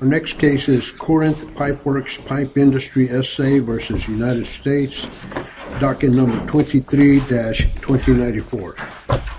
Our next case is Corinth Pipeworks Pipe Industry SA v. United States docket number 23-2094 docket number 23-2094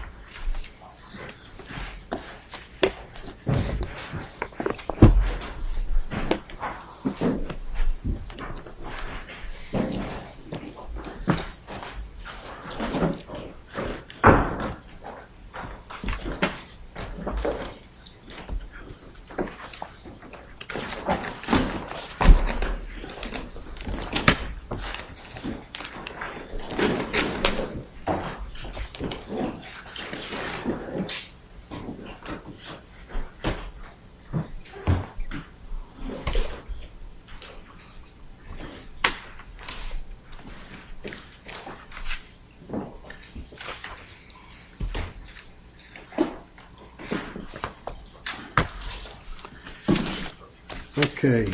Okay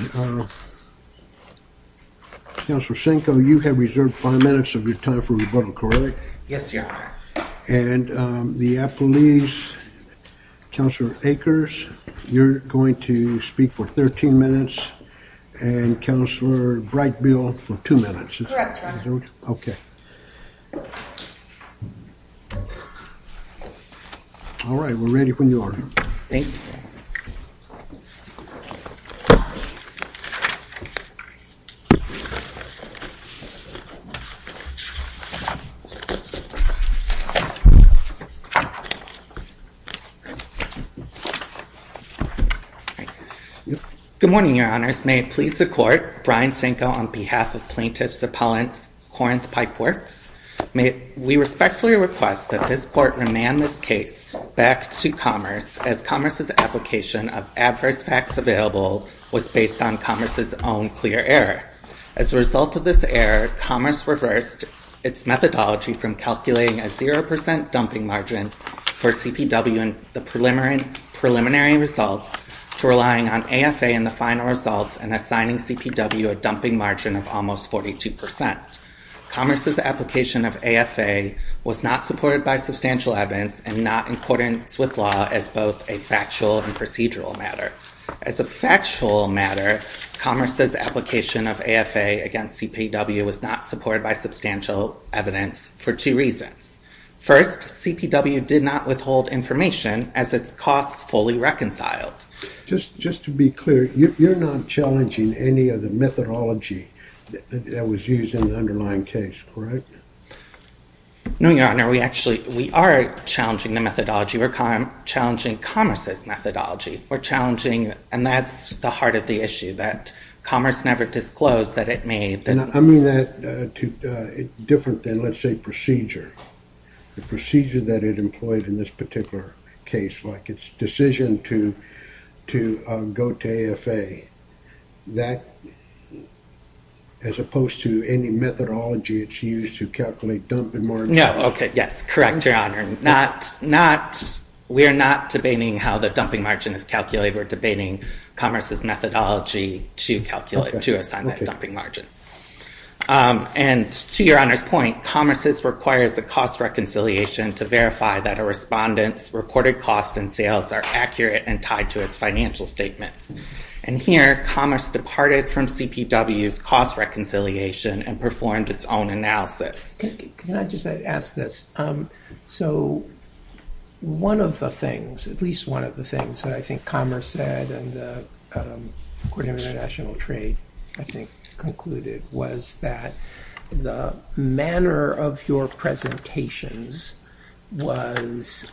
Counselor Senko you have reserved five minutes of your time for rebuttal correct? Yes, sir, and the Apple leaves counselor acres you're going to speak for 13 minutes and Counselor bright bill for two minutes Okay All right, we're ready when you are Good Morning your honors may it please the court Brian Senko on behalf of plaintiffs appellants Corinth Pipeworks May we respectfully request that this court remand this case back to commerce as commerce's Application of adverse facts available was based on commerce's own clear error as a result of this error commerce reversed Its methodology from calculating a 0% dumping margin for CPW and the preliminary Preliminary results to relying on AFA in the final results and assigning CPW a dumping margin of almost 42% Commerce's application of AFA Was not supported by substantial evidence and not in accordance with law as both a factual and procedural matter as a factual matter Commerce's application of AFA against CPW was not supported by substantial evidence for two reasons First CPW did not withhold information as its costs fully reconciled Just just to be clear. You're not challenging any of the methodology That was used in the underlying case, correct No, your honor. We actually we are challenging the methodology. We're kind of challenging commerce's methodology We're challenging and that's the heart of the issue that commerce never disclosed that it made and I mean that Different than let's say procedure The procedure that it employed in this particular case like its decision to to go to AFA that As opposed to any methodology, it's used to calculate dumping margin. No. Okay. Yes, correct your honor. Not not We are not debating how the dumping margin is calculated. We're debating commerce's methodology to calculate to assign that dumping margin And to your honors point commerce's requires the cost reconciliation to verify that a respondents Recorded costs and sales are accurate and tied to its financial statements and here commerce departed from CPW's cost Reconciliation and performed its own analysis. Can I just ask this? so one of the things at least one of the things that I think commerce said and according to international trade I think concluded was that the manner of your presentations was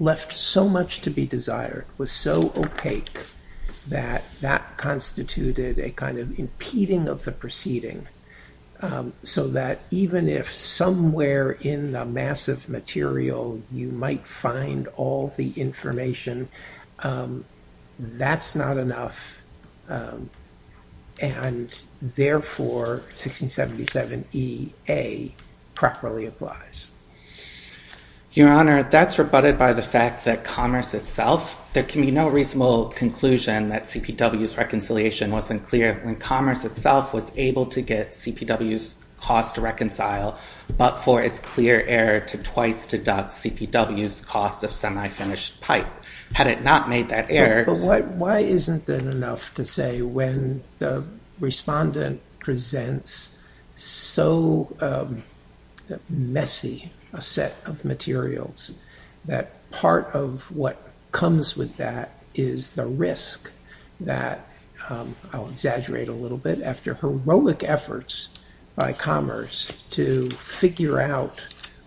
left So much to be desired was so opaque that that constituted a kind of impeding of the proceeding So that even if somewhere in the massive material you might find all the information That's not enough and Therefore 1677 EA Properly applies Your honor that's rebutted by the fact that commerce itself There can be no reasonable conclusion that CPW's reconciliation wasn't clear when commerce itself was able to get CPW's cost to reconcile But for its clear error to twice to dot CPW's cost of semi-finished pipe had it not made that error Why isn't that enough to say when the? respondent presents So Messy a set of materials that part of what comes with that is the risk that I'll exaggerate a little bit after heroic efforts by commerce to figure out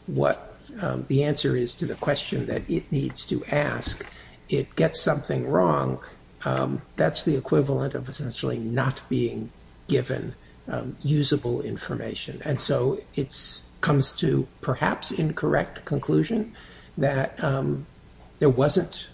What the answer is to the question that it needs to ask it gets something wrong That's the equivalent of essentially not being given usable information and so it's comes to perhaps incorrect conclusion that There wasn't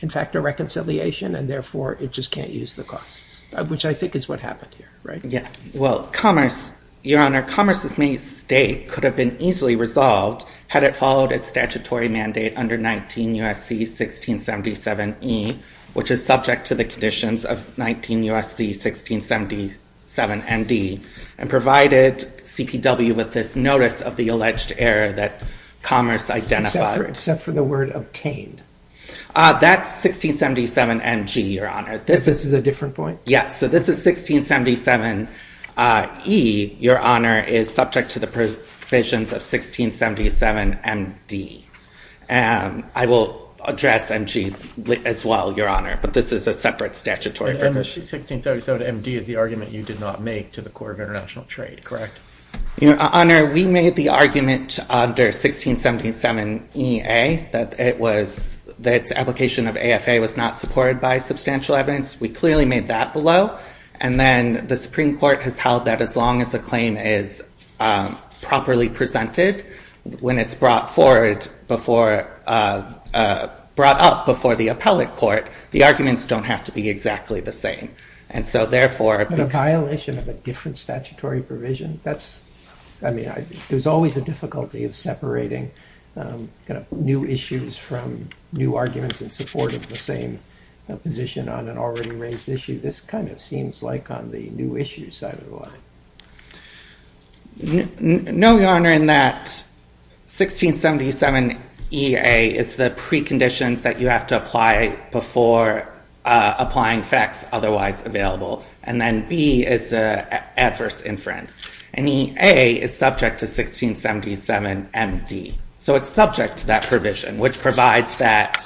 in fact a reconciliation and therefore it just can't use the costs which I think is what happened here, right? Yeah, well commerce your honor commerce's mistake could have been easily resolved had it followed its statutory mandate under 19 USC 1677 E which is subject to the conditions of 19 USC 1677 MD and provided CPW with this notice of the alleged error that Commerce identified except for the word obtained That's 1677 and G your honor. This is a different point. Yes, so this is 1677 E your honor is subject to the provisions of 1677 and D I will address and G as well your honor, but this is a separate statutory MD is the argument you did not make to the Corps of International Trade, correct? You know honor we made the argument under 1677 EA that it was that application of AFA was not supported by substantial evidence we clearly made that below and then the Supreme Court has held that as long as the claim is Properly presented when it's brought forward before Brought up before the appellate court. The arguments don't have to be exactly the same And so therefore a violation of a different statutory provision. That's I mean, there's always a difficulty of separating New issues from new arguments in support of the same Position on an already raised issue. This kind of seems like on the new issue side of the line No, your honor in that 1677 EA it's the preconditions that you have to apply before applying facts otherwise available and then B is a Adverse inference and EA is subject to 1677 MD. So it's subject to that provision which provides that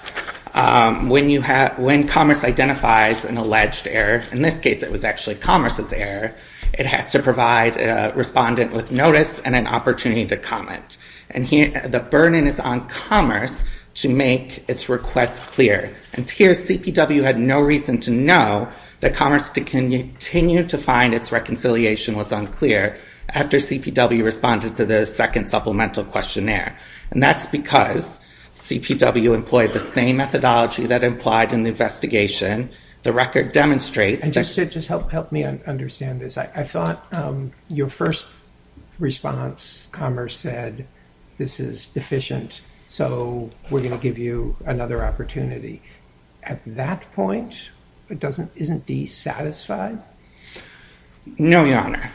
When you have when commerce identifies an alleged error in this case, it was actually commerce's error It has to provide Respondent with notice and an opportunity to comment and here the burden is on commerce to make its requests clear And here CPW had no reason to know that commerce to continue to find its reconciliation was unclear after CPW responded to the second supplemental questionnaire, and that's because CPW employed the same methodology that implied in the investigation The record demonstrates and just to just help help me understand this I thought your first Response commerce said this is deficient. So we're going to give you another opportunity At that point, it doesn't isn't D satisfied No, your honor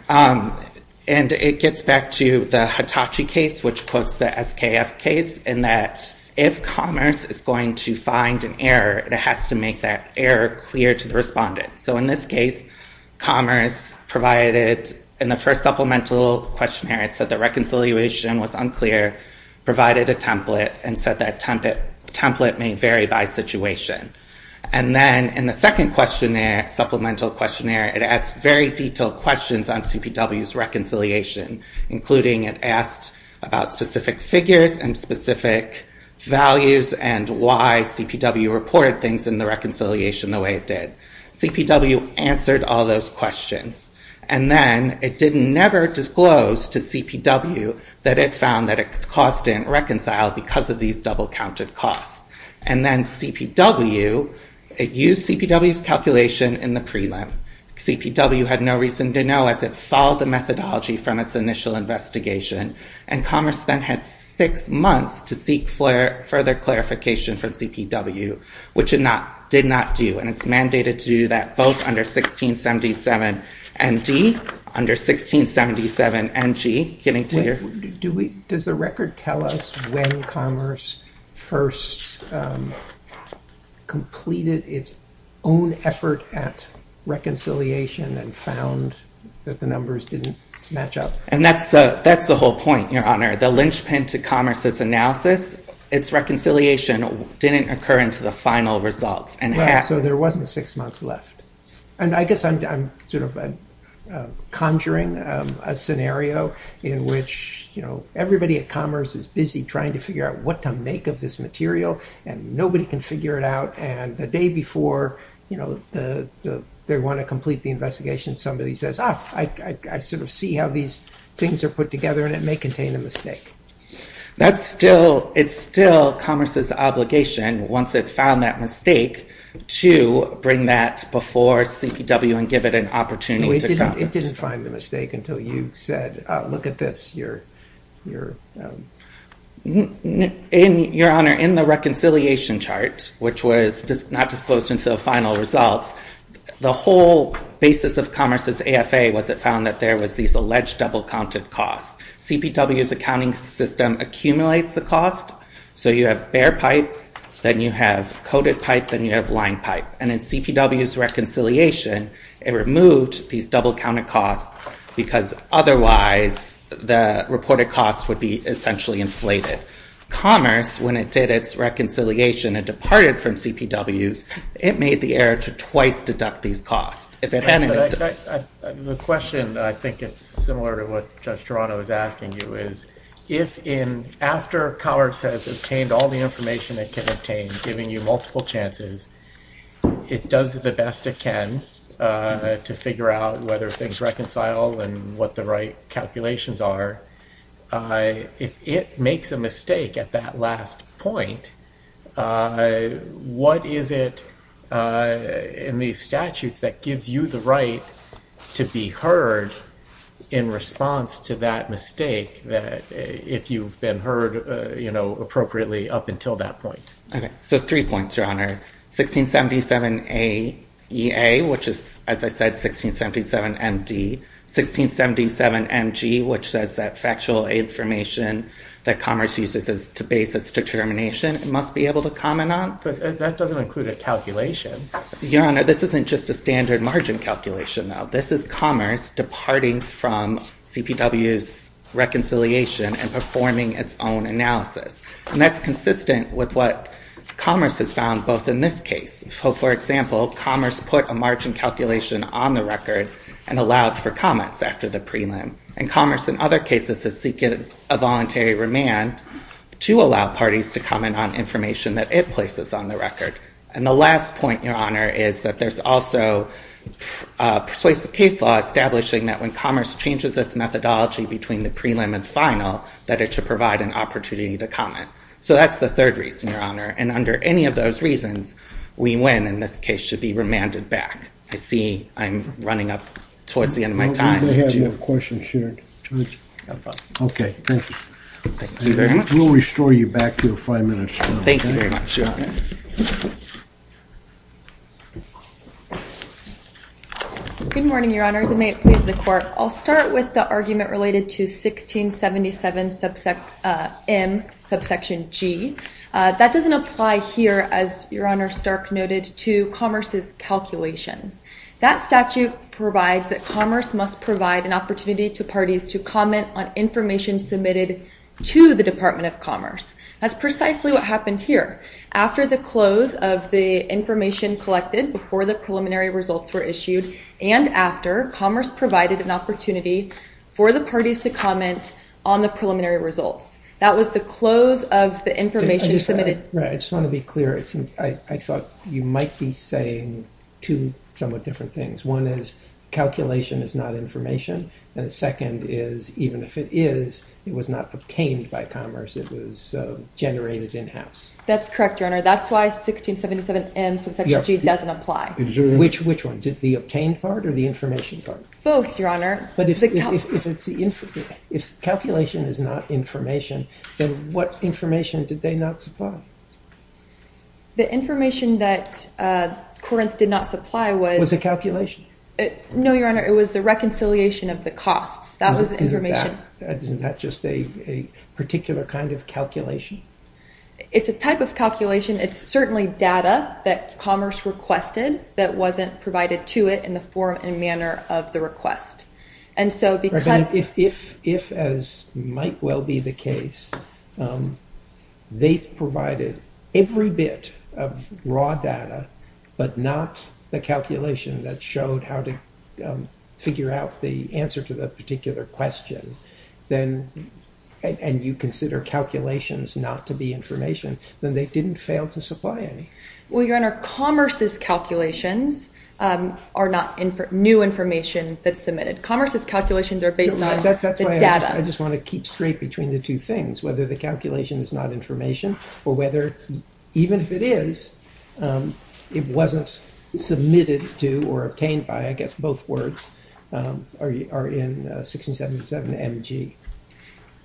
and it gets back to the Hitachi case which quotes the SKF case in that if Commerce is going to find an error. It has to make that error clear to the respondent. So in this case Commerce provided in the first supplemental questionnaire. It said the reconciliation was unclear provided a template and said that template template may vary by situation and Then in the second questionnaire supplemental questionnaire, it asks very detailed questions on CPW's reconciliation including it asked about specific figures and specific Values and why CPW reported things in the reconciliation the way it did CPW answered all those questions and then it didn't never disclose to CPW that it found that it cost in reconciled because of these double-counted costs and then CPW It used CPW's calculation in the prelim CPW had no reason to know as it followed the methodology from its initial investigation and Commerce then had six months to seek further clarification from CPW Which it not did not do and it's mandated to do that both under 1677 and D under 1677 and G getting to your do we does the record tell us when Commerce first Completed its own effort at Reconciliation and found that the numbers didn't match up and that's the that's the whole point your honor the linchpin to Commerce's analysis Its reconciliation didn't occur into the final results and so there wasn't six months left. And I guess I'm sort of conjuring a scenario in which you know Everybody at Commerce is busy trying to figure out what to make of this material and nobody can figure it out and the day before you know, the They want to complete the investigation. Somebody says ah, I Sort of see how these things are put together and it may contain a mistake That's still it's still Commerce's obligation once it found that mistake To bring that before CPW and give it an opportunity. It didn't find the mistake until you said look at this You're you're In your honor in the reconciliation chart, which was just not disclosed until final results The whole basis of Commerce's AFA was it found that there was these alleged double-counted costs CPW's accounting system Accumulates the cost so you have bear pipe Then you have coded pipe then you have line pipe and in CPW's reconciliation It removed these double-counted costs because otherwise The reported costs would be essentially inflated Commerce when it did its reconciliation and departed from CPW's It made the error to twice deduct these costs if it hadn't The question I think it's similar to what just Toronto is asking you is if in After Commerce has obtained all the information that can obtain giving you multiple chances It does the best it can To figure out whether things reconcile and what the right calculations are If it makes a mistake at that last point I What is it? In these statutes that gives you the right to be heard in Response to that mistake that if you've been heard, you know appropriately up until that point Okay, so three points your honor 1677 a EA which is as I said 1677 MD 1677 mg which says that factual a information that commerce uses is to base its Determination it must be able to comment on but that doesn't include a calculation your honor This isn't just a standard margin calculation. Now. This is commerce departing from CPW's Reconciliation and performing its own analysis and that's consistent with what commerce has found both in this case for example commerce put a margin calculation on the record and Allowed for comments after the prelim and commerce in other cases to seek it a voluntary remand to allow parties to comment on information that it places on the record and the last point your honor is that there's also a persuasive case law Establishing that when commerce changes its methodology between the prelim and final that it should provide an opportunity to comment So that's the third reason your honor and under any of those reasons we win in this case should be remanded back I see I'm running up towards the end of my time question shared Okay, thank you. We'll restore you back to five minutes. Thank you Good morning, your honors. It may please the court. I'll start with the argument related to 1677 subsect M subsection G That doesn't apply here as your honor stark noted to commerce's Calculations that statute provides that commerce must provide an opportunity to parties to comment on information submitted To the Department of Commerce. That's precisely what happened here after the close of the information collected before the preliminary results were issued and after commerce provided an opportunity for The parties to comment on the preliminary results. That was the close of the information submitted I just want to be clear. It's and I thought you might be saying two somewhat different things. One is Calculation is not information and the second is even if it is it was not obtained by commerce. It was Generated in-house. That's correct. Your honor. That's why 1677 M So that doesn't apply which which one did the obtained part or the information part both your honor? But if it's if it's the infant if calculation is not information, then what information did they not supply? the information that Corinth did not supply was a calculation. No, your honor. It was the reconciliation of the costs. That was the information Isn't that just a a particular kind of calculation? It's a type of calculation It's certainly data that commerce requested that wasn't provided to it in the form and manner of the request And so because if if as might well be the case They provided every bit of raw data, but not the calculation that showed how to figure out the answer to the particular question then And you consider calculations not to be information then they didn't fail to supply any well, your honor Commerce's calculations are not in for new information that's submitted commerce's calculations are based on I just want to keep straight between the two things whether the calculation is not information or whether even if it is It wasn't Submitted to or obtained by I guess both words Are you are in? 1677 mg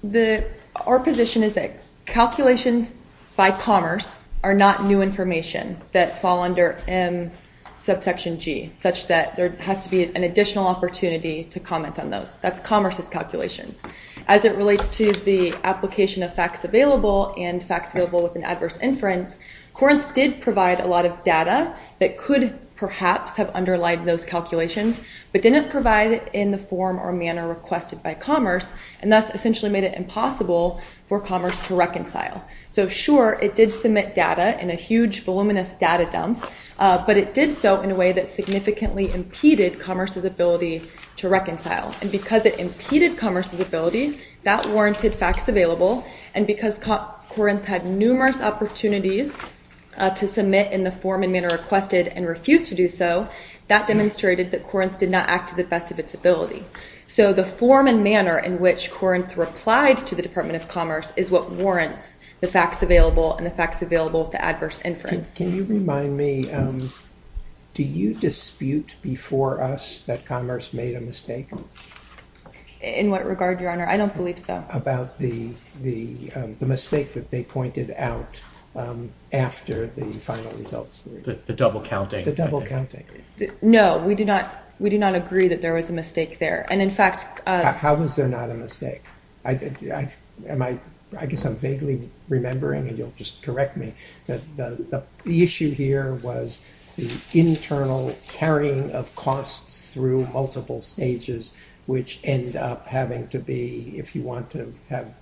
the our position is that Calculations by commerce are not new information that fall under M Subsection G such that there has to be an additional opportunity to comment on those That's commerce's calculations as it relates to the application of facts available and facts available with an adverse inference Corinth did provide a lot of data that could perhaps have underlined those calculations But didn't provide it in the form or manner requested by commerce and thus essentially made it impossible For commerce to reconcile so sure it did submit data in a huge voluminous data dump But it did so in a way that significantly impeded commerce's ability to reconcile and because it impeded commerce's ability That warranted facts available and because Corinth had numerous opportunities To submit in the form and manner requested and refused to do so that Demonstrated that Corinth did not act to the best of its ability So the form and manner in which Corinth replied to the Department of Commerce is what warrants the facts available and the facts available With the adverse inference. Can you remind me? Do you dispute before us that commerce made a mistake? In what regard your honor? I don't believe so about the the the mistake that they pointed out After the final results the double counting the double counting No, we do not we do not agree that there was a mistake there and in fact, how was there not a mistake? I did yeah, am I I guess I'm vaguely remembering and you'll just correct me that the issue here was internal carrying of costs through multiple stages Which end up having to be if you want to have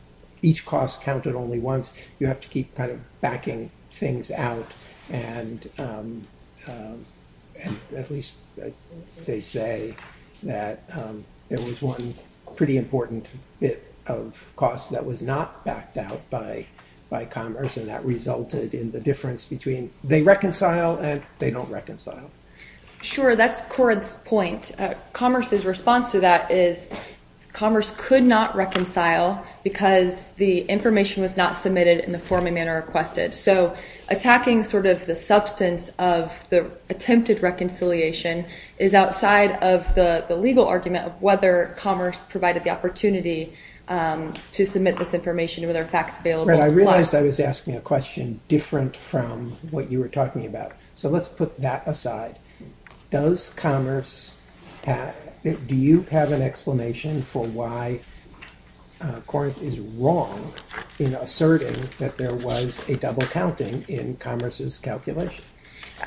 each cost counted only once you have to keep kind of backing things out and They say that It was one pretty important bit of cost that was not backed out by By commerce and that resulted in the difference between they reconcile and they don't reconcile Sure, that's Corinth's point commerce's response to that is Commerce could not reconcile because the information was not submitted in the form a manner requested so attacking sort of the substance of the attempted reconciliation is Outside of the the legal argument of whether commerce provided the opportunity To submit this information with our facts available. I realized I was asking a question different from what you were talking about So let's put that aside Does commerce? Do you have an explanation for why? Court is wrong in asserting that there was a double counting in commerce's calculation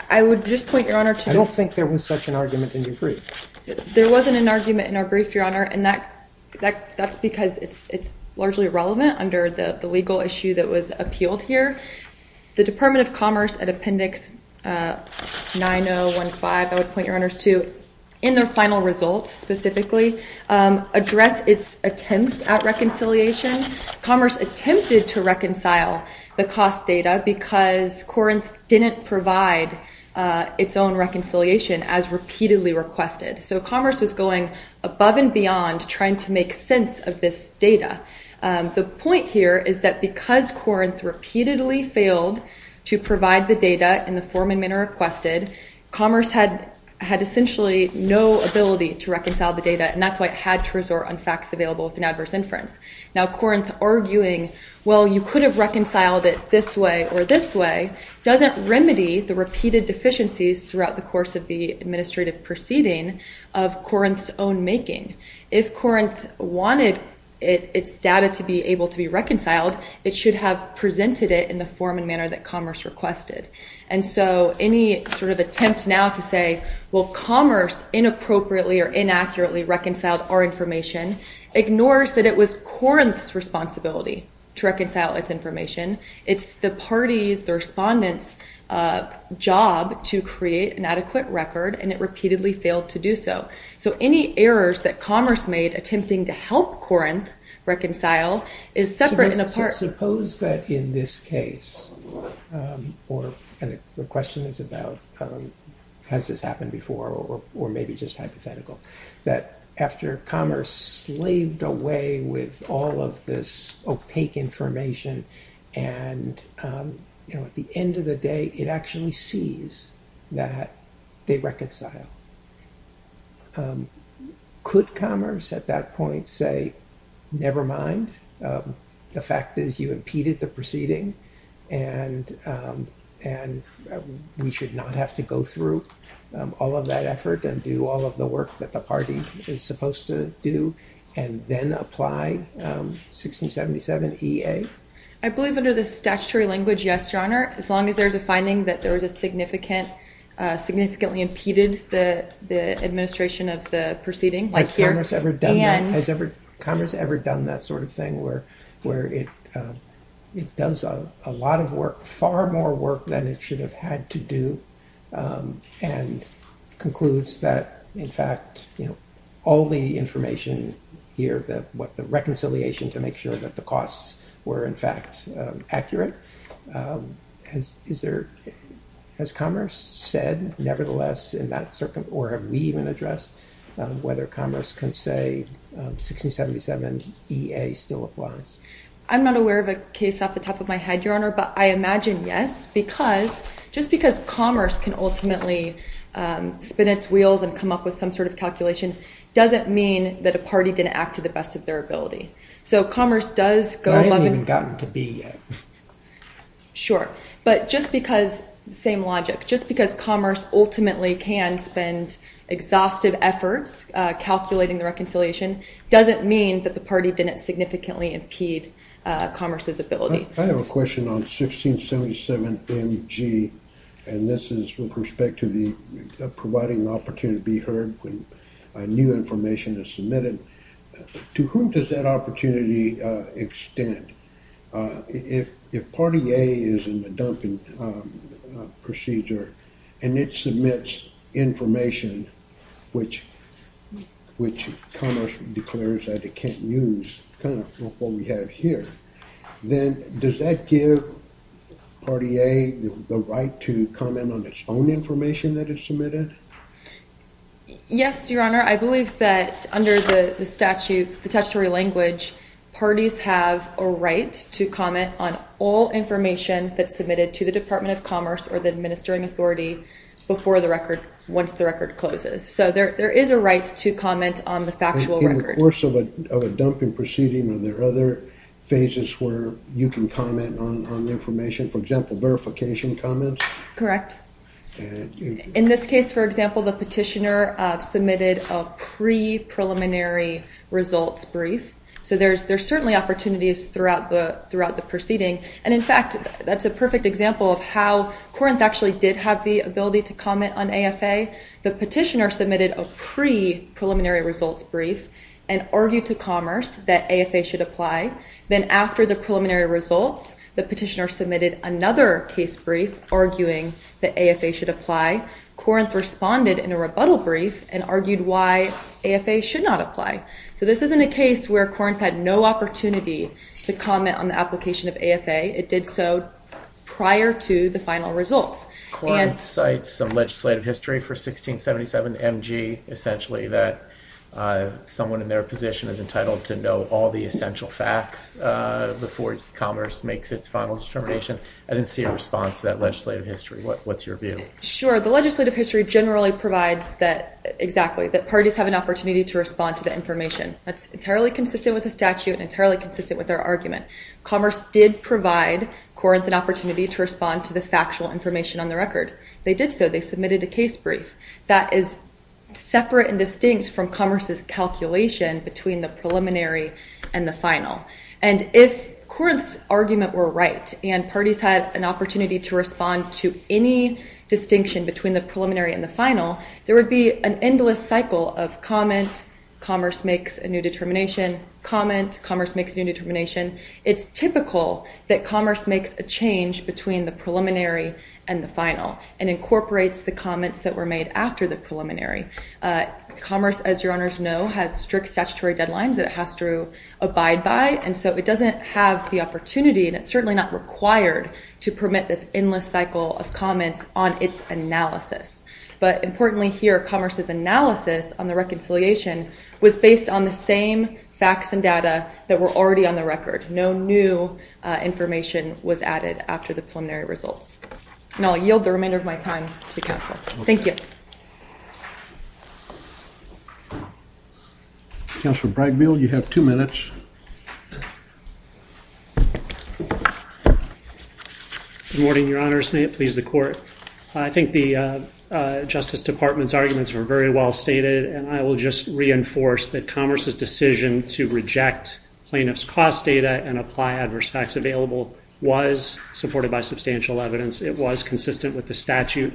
I would just point your honor to don't think there was such an argument in your brief There wasn't an argument in our brief your honor and that That's because it's it's largely relevant under the the legal issue that was appealed here the Department of Commerce at Appendix 9015 I would point your honors to in their final results specifically Address its attempts at reconciliation Commerce attempted to reconcile the cost data because Corinth didn't provide Its own reconciliation as repeatedly requested. So commerce was going above and beyond trying to make sense of this data The point here is that because Corinth repeatedly failed to provide the data in the form a manner requested Commerce had had essentially no ability to reconcile the data and that's why it had to resort on facts available with an adverse inference Now Corinth arguing well, you could have reconciled it this way or this way doesn't remedy the repeated deficiencies throughout the course of the administrative proceeding of Corinth's own making if Corinth wanted its data to be able to be reconciled It should have presented it in the form and manner that commerce requested And so any sort of attempt now to say well commerce Inappropriately or inaccurately reconciled our information ignores that it was Corinth's responsibility to reconcile its information It's the party's the respondents Job to create an adequate record and it repeatedly failed to do so So any errors that commerce made attempting to help Corinth reconcile is separate and apart suppose that in this case Or and the question is about Has this happened before or maybe just hypothetical that after commerce? slaved away with all of this opaque information and You know at the end of the day it actually sees that they reconcile Could commerce at that point say never mind The fact is you impeded the proceeding and And We should not have to go through All of that effort and do all of the work that the party is supposed to do and then apply 1677 EA I believe under the statutory language. Yes, your honor as long as there's a finding that there was a significant significantly impeded the Administration of the proceeding like here's ever done and has ever commerce ever done that sort of thing where where it It does a lot of work far more work than it should have had to do and Concludes that in fact, you know all the information Here that what the reconciliation to make sure that the costs were in fact accurate Has is there Has commerce said nevertheless in that circuit or have we even addressed whether commerce can say 1677 EA still applies. I'm not aware of a case off the top of my head your honor But I imagine yes, because just because commerce can ultimately Spin its wheels and come up with some sort of calculation doesn't mean that a party didn't act to the best of their ability So commerce does go on and gotten to be Sure, but just because the same logic just because commerce ultimately can spend exhaustive efforts Calculating the reconciliation doesn't mean that the party didn't significantly impede Commerce's ability. I have a question on 1677 MG and this is with respect to the Providing the opportunity to be heard when a new information is submitted To whom does that opportunity? extend If if party a is in the Duncan Procedure and it submits information which Which commerce declares that it can't use kind of what we have here then does that give? Party a the right to comment on its own information that is submitted Yes, your honor, I believe that under the statute the statutory language Parties have a right to comment on all information that's submitted to the Department of Commerce or the administering authority Before the record once the record closes So there there is a right to comment on the factual record course of a dumping proceeding of their other Phases where you can comment on the information for example verification comments, correct? In this case, for example, the petitioner submitted a pre Preliminary results brief. So there's there's certainly opportunities throughout the throughout the proceeding And in fact, that's a perfect example of how Corinth actually did have the ability to comment on AFA The petitioner submitted a pre preliminary results brief and argued to commerce that AFA should apply Then after the preliminary results the petitioner submitted another case brief arguing that AFA should apply Corinth responded in a rebuttal brief and argued why AFA should not apply So this isn't a case where Corinth had no opportunity to comment on the application of AFA. It did so prior to the final results and sites some legislative history for 1677 mg essentially that Someone in their position is entitled to know all the essential facts Before commerce makes its final determination. I didn't see a response to that legislative history. What what's your view? Sure, the legislative history generally provides that exactly that parties have an opportunity to respond to the information That's entirely consistent with the statute and entirely consistent with our argument commerce did provide Corinth an opportunity to respond to the factual information on the record. They did so they submitted a case brief that is separate and distinct from commerce's calculation between the preliminary and the final and if Corinth's argument were right and parties had an opportunity to respond to any Distinction between the preliminary and the final there would be an endless cycle of comment commerce makes a new determination Comment commerce makes new determination it's typical that commerce makes a change between the preliminary and the final and Incorporates the comments that were made after the preliminary Commerce as your honors know has strict statutory deadlines that it has to abide by and so it doesn't have the opportunity And it's certainly not required to permit this endless cycle of comments on its analysis But importantly here commerce's analysis on the reconciliation was based on the same Facts and data that were already on the record. No new Information was added after the preliminary results and I'll yield the remainder of my time to counsel. Thank you Counselor Bragville you have two minutes I Think the Justice Department's arguments were very well stated and I will just reinforce that commerce's decision to reject Plaintiffs cost data and apply adverse facts available was supported by substantial evidence It was consistent with the statute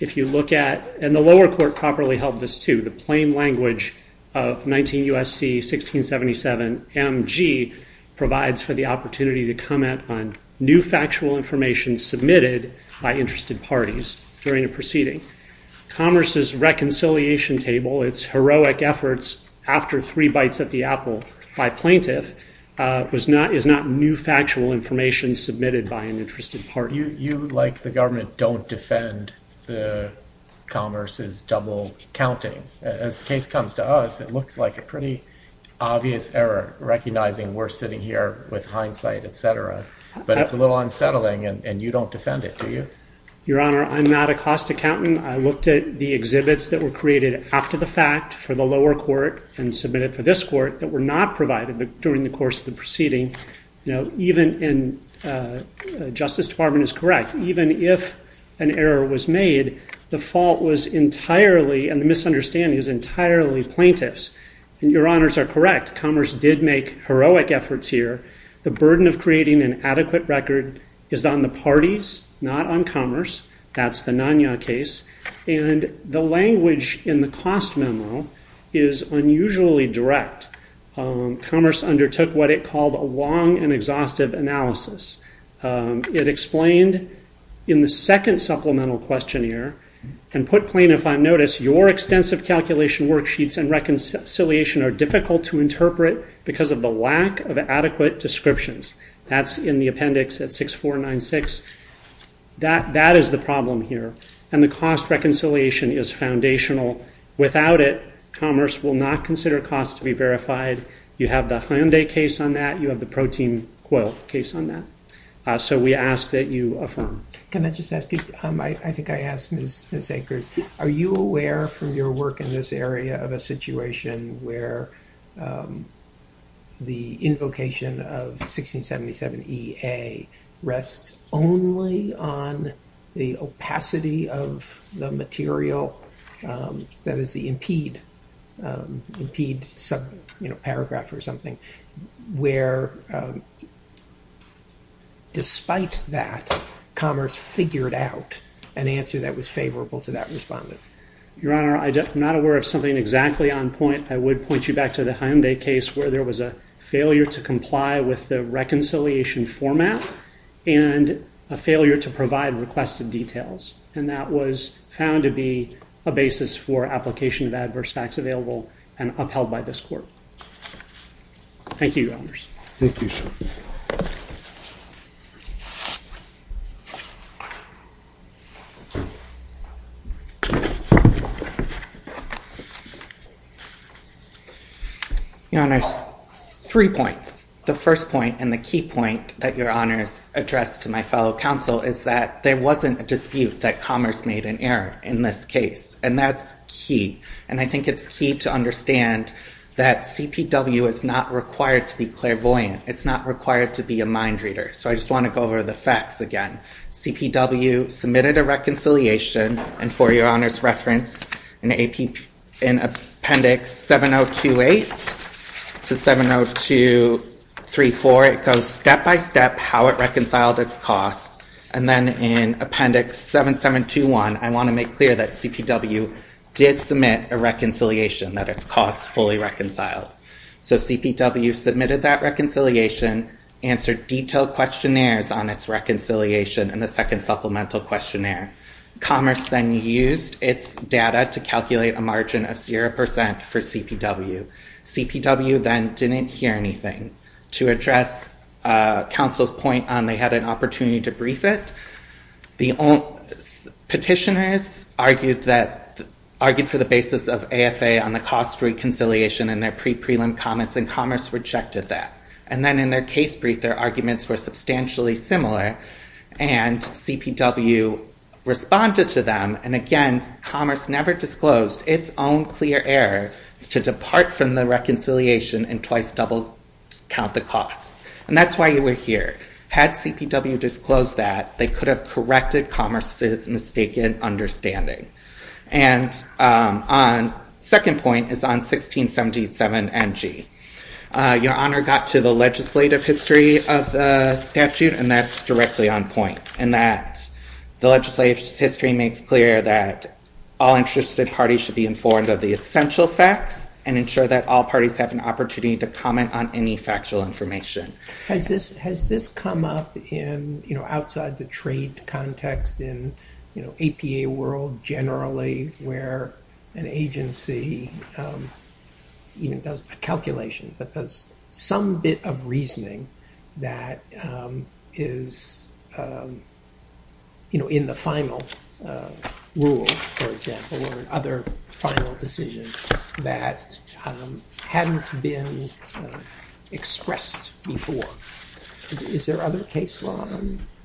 if you look at and the lower court properly held this to the plain language of 19 USC 1677 mg Provides for the opportunity to comment on new factual information submitted by interested parties during a proceeding Commerce's reconciliation table its heroic efforts after three bites at the apple by plaintiff Was not is not new factual information submitted by an interested party. You like the government don't defend the Commerce's double counting as the case comes to us. It looks like a pretty obvious error Recognizing we're sitting here with hindsight, etc But it's a little unsettling and you don't defend it to you your honor. I'm not a cost accountant I looked at the exhibits that were created after the fact for the lower court and submitted for this court that were not provided but during the course of the proceeding, you know, even in Justice Department is correct Even if an error was made the fault was entirely and the misunderstanding is entirely Plaintiffs and your honors are correct commerce did make heroic efforts here The burden of creating an adequate record is on the parties not on commerce That's the non-yah case and the language in the cost memo is unusually direct Commerce undertook what it called a long and exhaustive analysis It explained in the second supplemental questionnaire and put plain if I'm notice your extensive calculation worksheets and Reconciliation are difficult to interpret because of the lack of adequate descriptions that's in the appendix at six four nine six That that is the problem here and the cost reconciliation is foundational without it Commerce will not consider costs to be verified. You have the Hyundai case on that you have the protein quote case on that So we ask that you affirm. Can I just ask you? I think I asked miss miss acres Are you aware from your work in this area of a situation where? The invocation of 1677 EA rests only on the opacity of the material That is the impede impede some, you know paragraph or something where Despite that commerce figured out an answer that was favorable to that respondent your honor I'm not aware of something exactly on point I would point you back to the Hyundai case where there was a failure to comply with the reconciliation format and a failure to provide requested details and that was found to be a Basis for application of adverse facts available and upheld by this court Thank you Thank you You know, there's three points the first point and the key point that your honor is addressed to my fellow counsel Is that there wasn't a dispute that commerce made an error in this case and that's key And I think it's key to understand that CPW is not required to be clairvoyant. It's not required to be a mind reader So I just want to go over the facts again CPW submitted a reconciliation and for your honors reference in a peep in appendix 7028 to 702 34 it goes step-by-step how it reconciled its costs and then in appendix 7721 I want to make clear that CPW did submit a reconciliation that its costs fully reconciled So CPW submitted that reconciliation Answered detailed questionnaires on its reconciliation and the second supplemental questionnaire Commerce then used its data to calculate a margin of 0% for CPW CPW then didn't hear anything to address Counsel's point on they had an opportunity to brief it the own petitioners argued that argued for the basis of AFA on the cost reconciliation and their pre prelim comments and commerce rejected that and then in their case brief their arguments were substantially similar and CPW Responded to them and again commerce never disclosed its own clear error to depart from the reconciliation and twice double Count the costs and that's why you were here had CPW disclosed that they could have corrected commerce's mistaken understanding and on Second point is on 1677 mg your honor got to the legislative history of the statute and that's directly on point and that the legislative history makes clear that All interested parties should be informed of the essential facts and ensure that all parties have an opportunity to comment on any factual information Has this has this come up in you know outside the trade context in you know APA world generally where an agency Even does a calculation that does some bit of reasoning that is You know in the final Rule for example or other final decision that Hadn't been expressed before Is there other case law?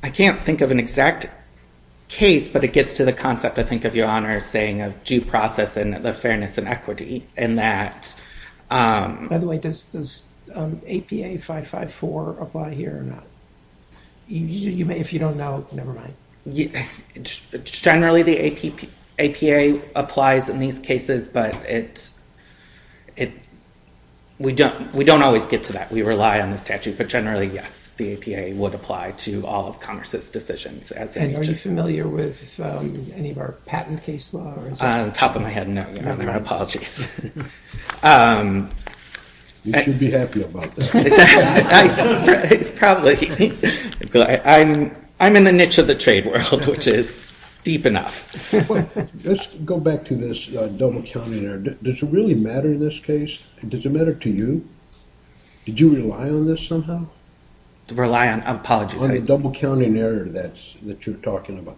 I can't think of an exact Case, but it gets to the concept. I think of your honor saying of due process and the fairness and equity and that by the way, this is APA 554 apply here or not You may if you don't know never mind. Yeah Generally the APA applies in these cases, but it it We don't we don't always get to that. We rely on the statute But generally yes, the APA would apply to all of Congress's decisions as a familiar with Top of my head no apologies I'm I'm in the niche of the trade world, which is deep enough Let's go back to this double counting there. Does it really matter in this case? Does it matter to you? Did you rely on this somehow? To rely on apologies a double counting error. That's that you're talking about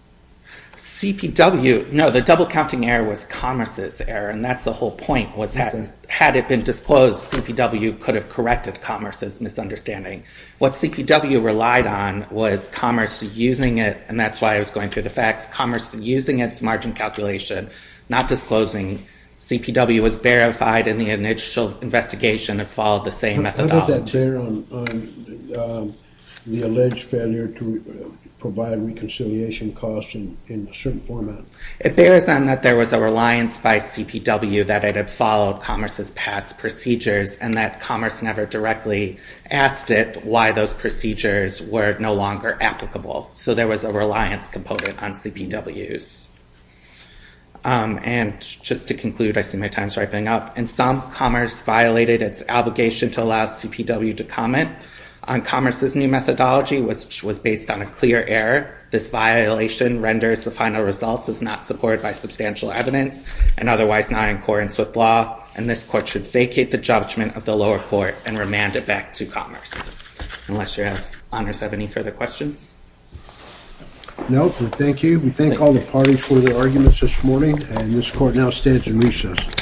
CPW no the double counting error was commerce's error and that's the whole point Was that had it been disclosed CPW could have corrected commerce's misunderstanding What CPW relied on was commerce using it and that's why I was going through the facts commerce using its margin calculation not disclosing CPW was verified in the initial investigation and followed the same method The alleged failure to Provide reconciliation costs in a certain format It bears on that there was a reliance by CPW that it had followed commerce's past procedures and that commerce never directly Asked it why those procedures were no longer applicable. So there was a reliance component on CPW's And just to conclude I see my time's ripening up and some commerce violated its Obligation to allow CPW to comment on commerce's new methodology which was based on a clear error this violation renders the final results is not supported by substantial evidence and otherwise not in accordance with law and this court should vacate the Judgment of the lower court and remand it back to commerce Unless your honors have any further questions No, thank you. We thank all the parties for their arguments this morning and this court now stands in recess